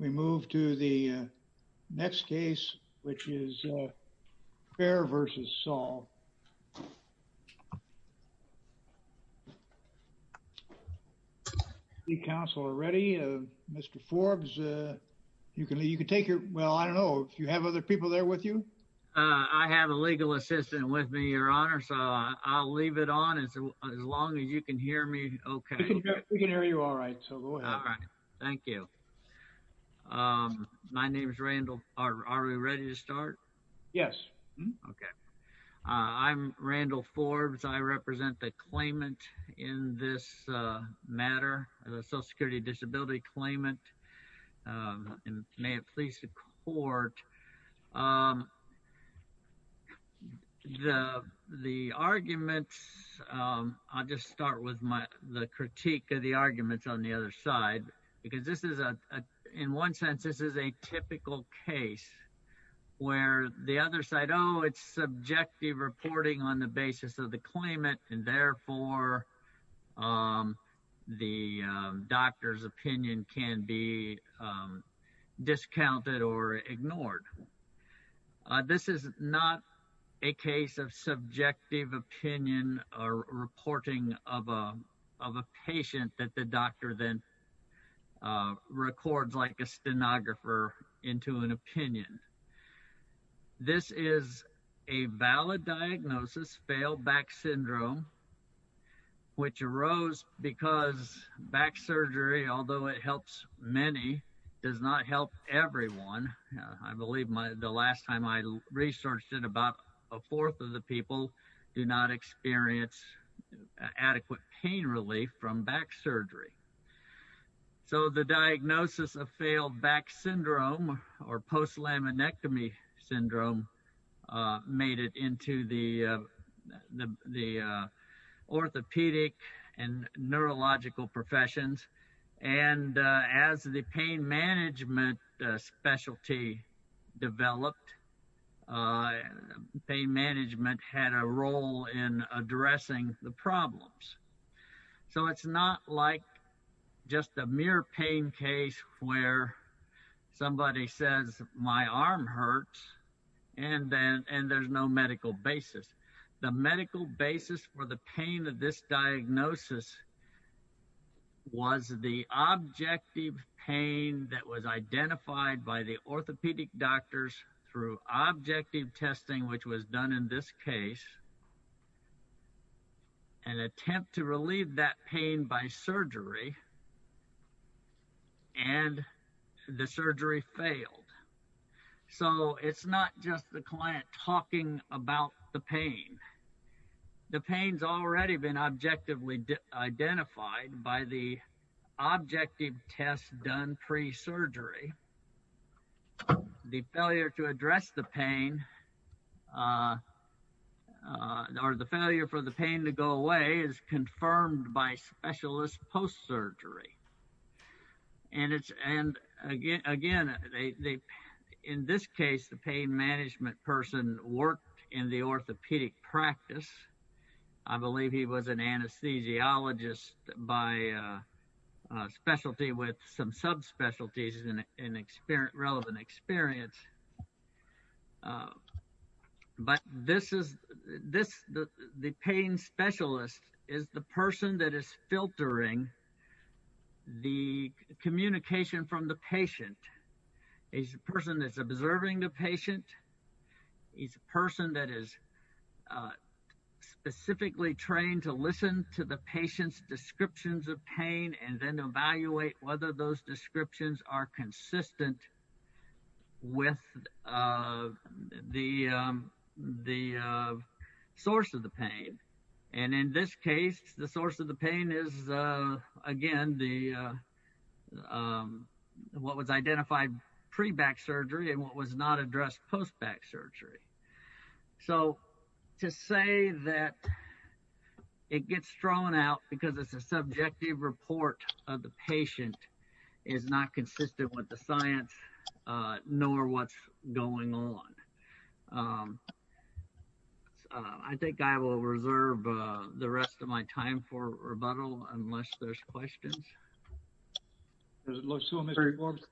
We move to the next case, which is Fair v. Saul. Council are ready. Mr. Forbes, you can take your, well, I don't know if you have other people there with you? I have a legal assistant with me, Your Honor, so I'll leave it on as long as you can hear me okay. We can hear you all right, so go ahead. Thank you. My name is Randall. Are we ready to start? Yes. Okay. I'm Randall Forbes. I represent the claimant in this matter, the Social Security Disability Claimant, and may it please the Court, the arguments, I'll just start with my, the critique of the arguments on the other side, because this is a, in one sense, this is a typical case where the other side, oh, it's subjective reporting on the basis of the claimant, and therefore the doctor's opinion can be discounted or ignored. This is not a case of subjective opinion or reporting of a patient that the doctor then records like a stenographer into an opinion. This is a valid diagnosis, failed back syndrome, which arose because back surgery, although it helps many, does not help everyone. I believe the last time I researched it, about a fourth of the people do not experience adequate pain relief from back surgery. So the diagnosis of failed back syndrome or post-laminectomy syndrome made it into the orthopedic and neurological professions, and as the pain management specialty developed, pain management had a role in addressing the problems. So it's not like just a mere pain case where somebody says, my arm hurts, and there's no medical basis. The medical basis for the pain of this diagnosis was the objective pain that was identified by orthopedic doctors through objective testing, which was done in this case, and attempt to relieve that pain by surgery, and the surgery failed. So it's not just the client talking about the pain. The pain's already been objectively identified by the objective test done pre-surgery. The failure to address the pain or the failure for the pain to go away is confirmed by specialist post-surgery, and again, in this case, the pain management person worked in the orthopedic practice. I believe he was an anesthesiologist by specialty with some subspecialties in relevant experience, but this is the pain specialist is the person that is filtering the communication from the patient. He's a person that's observing the patient. He's a person that is specifically trained to listen to the patient's descriptions of pain and then evaluate whether those descriptions are consistent with the source of the pain, and in this case, the source of the pain is, again, what was identified pre-back surgery and was not addressed post-back surgery. So to say that it gets thrown out because it's a subjective report of the patient is not consistent with the science nor what's going on. I think I will reserve the rest of my time for rebuttal unless there's questions. Mr. Forbes,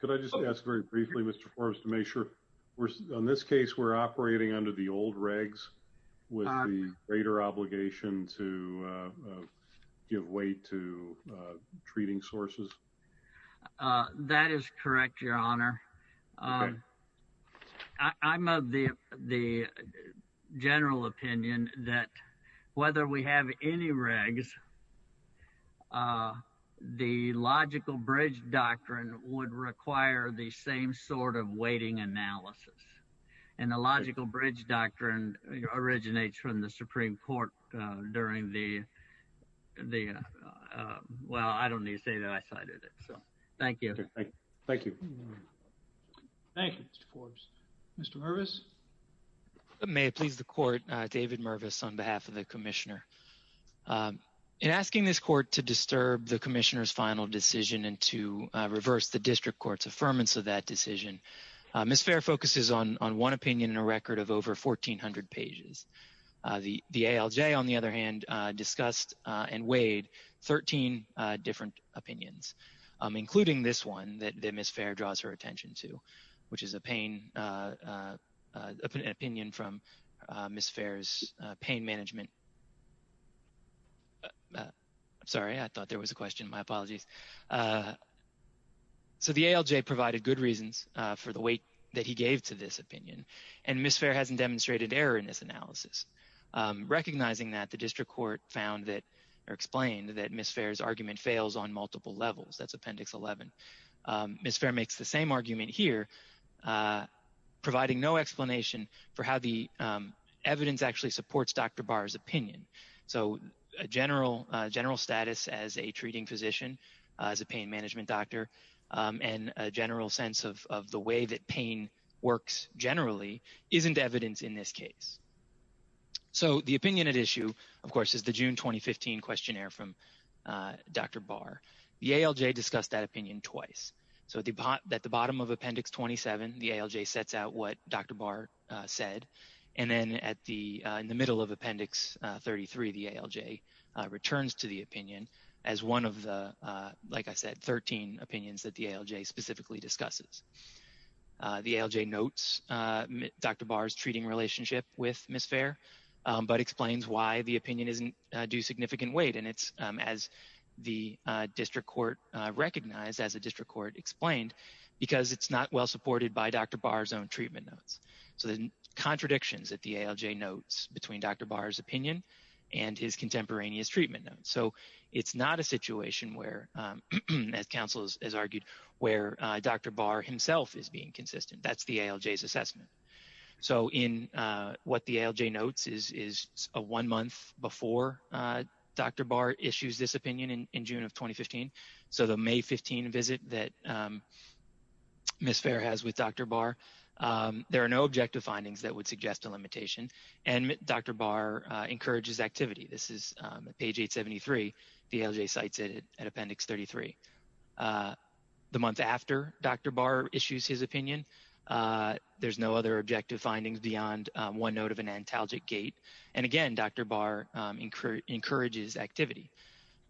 could I just ask very briefly, Mr. Forbes, to make sure in this case we're operating under the old regs with the greater obligation to give weight to treating sources? That is correct, Your Honor. Okay. I'm of the general opinion that whether we have any regs, the logical bridge doctrine would require the same sort of weighting analysis, and the logical bridge doctrine originates from the Supreme Court during the, well, I don't need to say that I cited it, so thank you. Thank you. Thank you, Mr. Forbes. Mr. Mervis? May it please the Court, David Mervis on behalf of the Commissioner. In asking this Court to disturb the Commissioner's final decision and to reverse the District Court's affirmance of that decision, Ms. Fair focuses on one opinion in a record of over 1,400 pages. The ALJ, on the other hand, discussed and weighed 13 different opinions, including this one that Ms. Fair draws her attention to, which is an opinion from Ms. Fair's pain management. I'm sorry. I thought there was a question. My apologies. So the ALJ provided good reasons for the weight that he gave to this opinion, and Ms. Fair hasn't demonstrated error in this analysis. Recognizing that, the District Court found that or explained that Ms. Fair's argument fails on multiple levels. That's Appendix 11. Ms. Fair makes the same argument here, providing no explanation for how the evidence actually supports Dr. Barr's opinion. So a general status as a treating physician, as a pain management doctor, and a general sense of the way that pain works generally isn't evidence in this case. So the opinion at issue, of course, is the June 2015 questionnaire from Dr. Barr. The ALJ discussed that opinion twice. So at the bottom of Appendix 27, the ALJ sets out what Dr. Barr said, and then in the middle of Appendix 33, the ALJ returns to the opinion as one of the, like I said, 13 opinions that the ALJ specifically discusses. The ALJ notes Dr. Barr's treating relationship with Ms. Fair, but explains why the opinion isn't due significant weight. And it's, as the District Court recognized, as the District Court explained, because it's not well supported by Dr. Barr's own treatment notes. So there's contradictions at the ALJ notes between Dr. Barr's opinion and his contemporaneous treatment notes. So it's not a situation where, as counsel has argued, where Dr. Barr himself is being consistent. That's the ALJ's assessment. So in what the ALJ notes is a one month before Dr. Barr issues this opinion in June of 2015. So the May 15 visit that Ms. Fair has with Dr. Barr, there are no The ALJ cites it at Appendix 33. The month after Dr. Barr issues his opinion, there's no other objective findings beyond one note of an antalgic gait. And again, Dr. Barr encourages activity.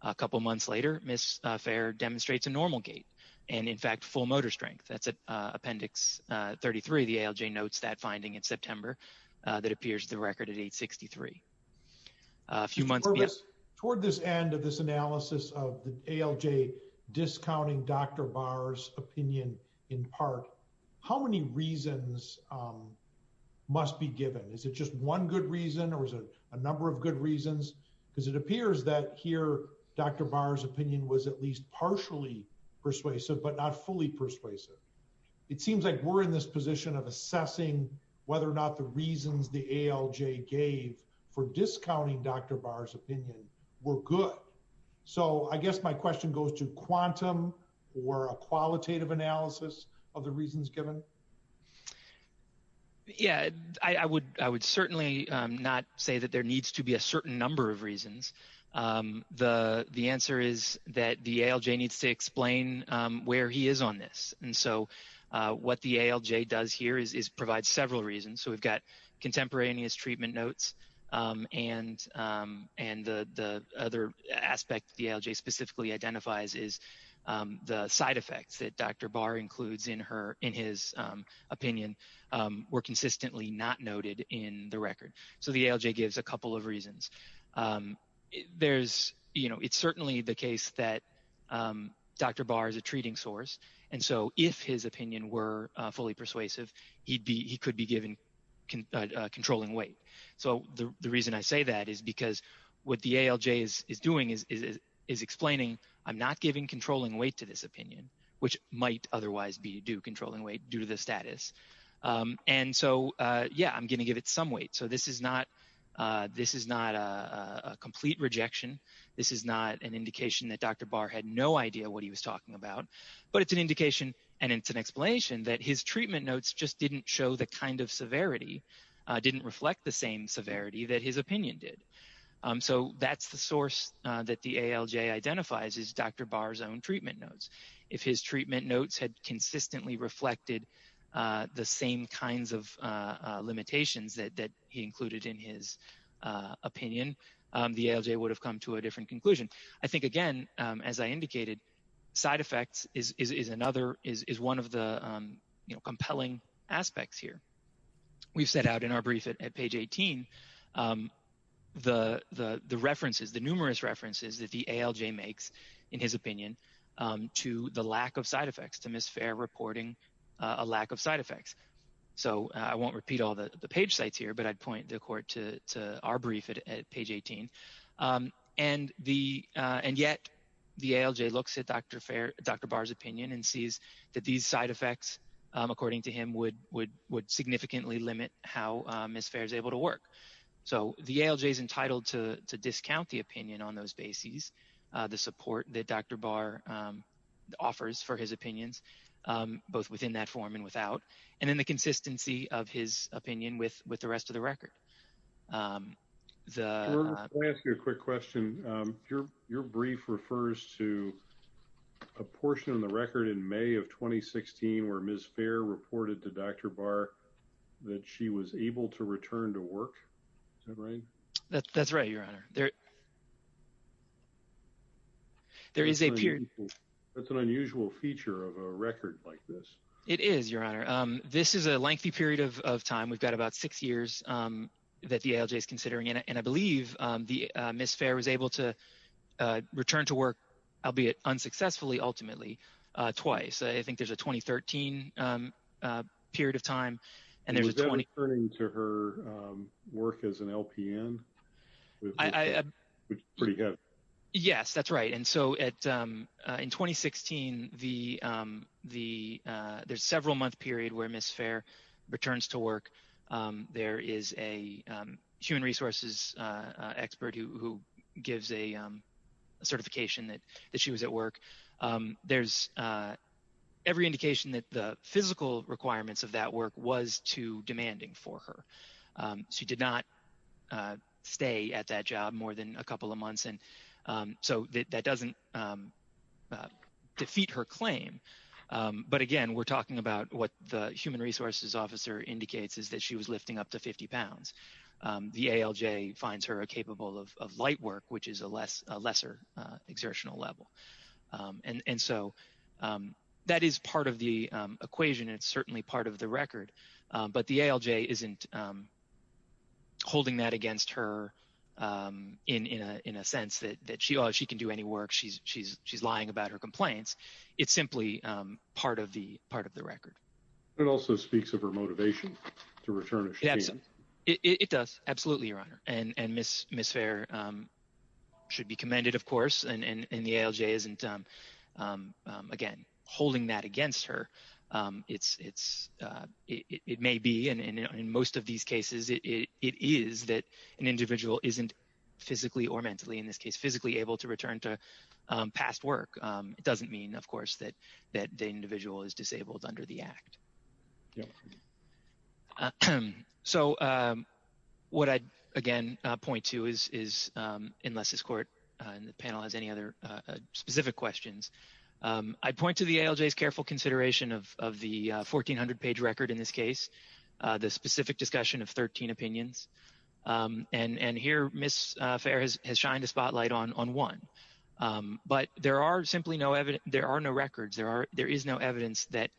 A couple months later, Ms. Fair demonstrates a normal gait, and in fact, full motor strength. That's at Appendix 33. The ALJ notes that finding in September that appears the record at 863. A few months before this. Toward this end of this analysis of the ALJ discounting Dr. Barr's opinion in part, how many reasons must be given? Is it just one good reason or is it a number of good reasons? Because it appears that here, Dr. Barr's opinion was at least partially persuasive, but not fully persuasive. It seems like we're in this position of assessing whether or not the reasons the ALJ gave for discounting Dr. Barr's opinion were good. So I guess my question goes to quantum or a qualitative analysis of the reasons given? Yeah, I would certainly not say that there needs to be a certain number of reasons. The answer is that the ALJ needs to explain where he is on this. And so what the ALJ does here is provide several reasons. So we've got contemporaneous treatment notes. And the other aspect the ALJ specifically identifies is the side effects that Dr. Barr includes in his opinion were consistently not noted in the record. So the ALJ gives a couple of reasons. It's certainly the case that Dr. Barr is a treating source. And so if his opinion were fully persuasive, he could be given controlling weight. So the reason I say that is because what the ALJ is doing is explaining, I'm not giving controlling weight to this opinion, which might otherwise be due to the status. And so, yeah, I'm going to give it some weight. So this is not a complete rejection. This is not an indication that Dr. Barr had no idea what he was talking about. But it's an indication and it's an explanation that his treatment notes just didn't show the kind of severity, didn't reflect the same severity that his opinion did. So that's the source that the ALJ identifies is Dr. Barr's own treatment notes. If his treatment notes had consistently reflected the same kinds of limitations that he included in his opinion, the ALJ would have come to a different conclusion. I think, again, as I indicated, side effects is another, is one of the compelling aspects here. We've set out in our brief at page 18 the references, the numerous references that the ALJ makes in his opinion to the lack of side effects, to Ms. Fair reporting a lack of side effects. So I won't repeat all the page sites but I'd point the court to our brief at page 18. And yet the ALJ looks at Dr. Barr's opinion and sees that these side effects, according to him, would significantly limit how Ms. Fair is able to work. So the ALJ is entitled to discount the opinion on those bases, the support that Dr. Barr offers for his opinions, both within that form and without. And then the consistency of his record. Let me ask you a quick question. Your brief refers to a portion of the record in May of 2016 where Ms. Fair reported to Dr. Barr that she was able to return to work. Is that right? That's right, Your Honor. There is a period. That's an unusual feature of a record like this. It is, Your Honor. This is a lengthy period of time. We've got about six years that the ALJ is considering. And I believe Ms. Fair was able to return to work, albeit unsuccessfully, ultimately twice. I think there's a 2013 period of time and there's a 20... Was that referring to her work as an LPN? Yes, that's right. And so in 2016, there's several month period where Ms. Fair returns to work. There is a human resources expert who gives a certification that she was at work. There's every indication that the physical requirements of that work was too demanding for her. She did not stay at that job more than a couple of months. And so that doesn't defeat her claim. But again, we're talking about what the human resources officer indicates is that she was lifting up to 50 pounds. The ALJ finds her capable of light work, which is a lesser exertional level. And so that is part of the equation. It's certainly part of the record. But the ALJ isn't holding that against her in a sense that she can do any work. She's lying about her complaints. It's simply part of the record. It also speaks of her motivation to return. It does. Absolutely, Your Honor. And Ms. Fair should be commended, of course. And the ALJ isn't, again, holding that against her. It may be, and in most of these cases, it is that an individual isn't physically or mentally, in this case, physically able to return to past work. It doesn't mean, of course, that the individual is disabled under the Act. So what I'd, again, point to is, unless this court and the panel has any other specific questions, I'd point to the ALJ's careful consideration of the 1,400-page record in this case, the specific discussion of 13 opinions. And here, Ms. Fair has shined a spotlight on one. But there are simply no, there are no records. There is no evidence that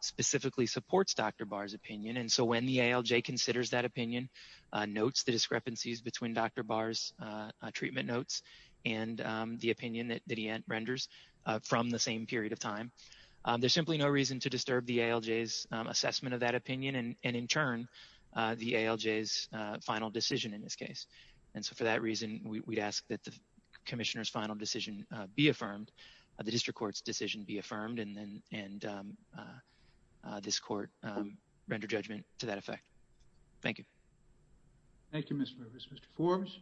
specifically supports Dr. Barr's opinion. And so the ALJ considers that opinion, notes the discrepancies between Dr. Barr's treatment notes and the opinion that he renders from the same period of time. There's simply no reason to disturb the ALJ's assessment of that opinion and, in turn, the ALJ's final decision in this case. And so for that reason, we'd ask that the Commissioner's final decision be affirmed, the district court's decision be affirmed, and this court render judgment to that effect. Thank you. Thank you, Mr. Rivers. Mr. Forbes?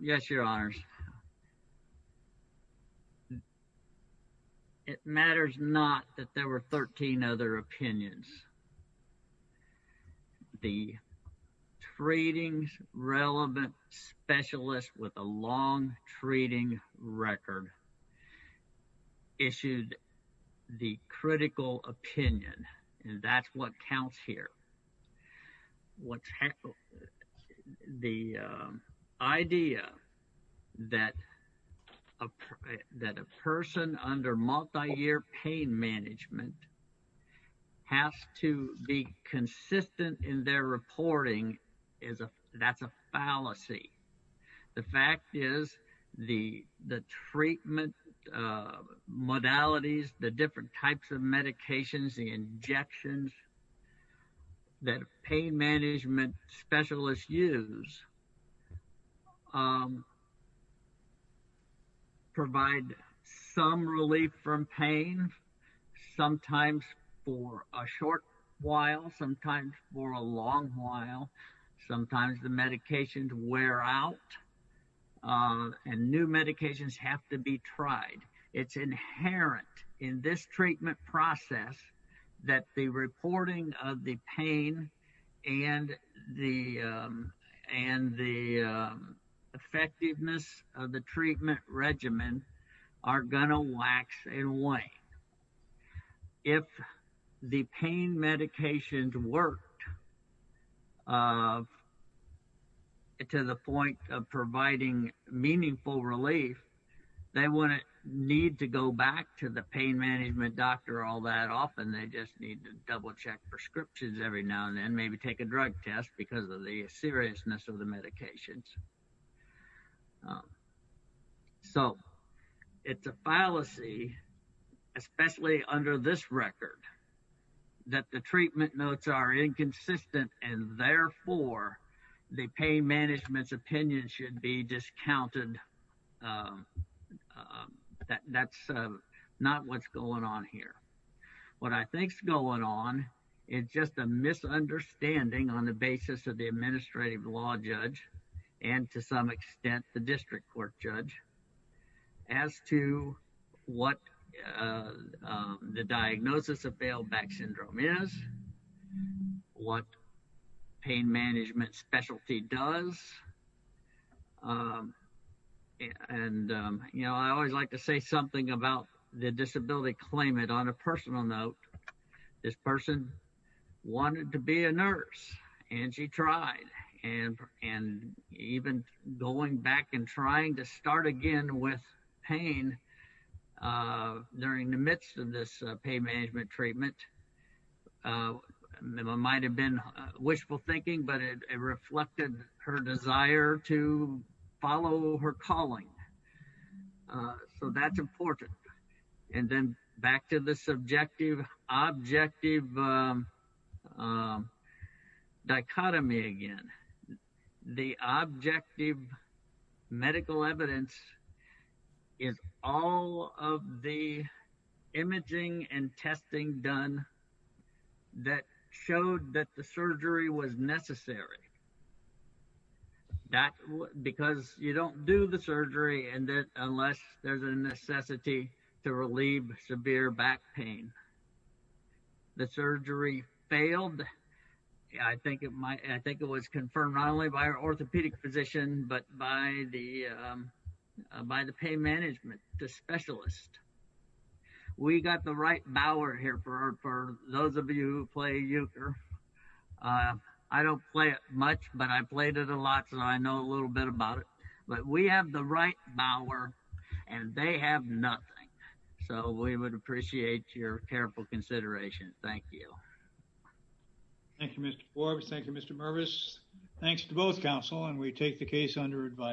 Yes, Your Honors. It matters not that there were 13 other opinions. The Treatings Relevant Specialist with a Long Treating Record issued the critical opinion, and that's what counts here. The idea that a person under multi-year pain management has to be consistent in their reporting is a, that's a fallacy. The fact is the treatment modalities, the different types of medications, the injections that pain management specialists use provide some relief from pain, sometimes for a short while, sometimes for a long while. Sometimes the medications wear out, and new medications have to be tried. It's inherent in this treatment process that the reporting of the pain and the effectiveness of the treatment regimen are going to wax and wane. If the pain medications worked to the point of providing meaningful relief, they wouldn't need to go back to the pain management doctor all that often. They just need to double-check prescriptions every now and then, maybe take a drug test because of the seriousness of the medications. So, it's a fallacy, especially under this record, that the treatment notes are inconsistent and therefore the pain management's opinion should be discounted. That's not what's going on here. What I think's going on is just a misunderstanding on the basis of the administrative law judge, and to some extent the district court judge, as to what the diagnosis of Baileback syndrome is, what pain management specialty does. And, you know, I always like to say something about the disability claimant on a personal note. This person wanted to be a nurse, and she tried, and even going back and trying to start again with pain during the midst of this pain management treatment. It might have been wishful thinking, but it reflected her desire to follow her calling. So, that's important. And then back to the subjective-objective dichotomy again. The objective medical evidence is all of the imaging and testing done that showed that the surgery was necessary. Because you don't do the surgery unless there's a necessity to relieve severe back pain. The surgery failed. I think it was confirmed not only by our orthopedic physician, but by the pain management specialist. We got the right bower here for those of you who play euchre. I don't play it much, but I played it a lot, so I know a little bit about it. But we have the right bower, and they have nothing. So, we would appreciate your careful consideration. Thank you. Thank you, Mr. Forbes. Thank you, Mr. Mervis. Thanks to both counsel, and we take the case under advice.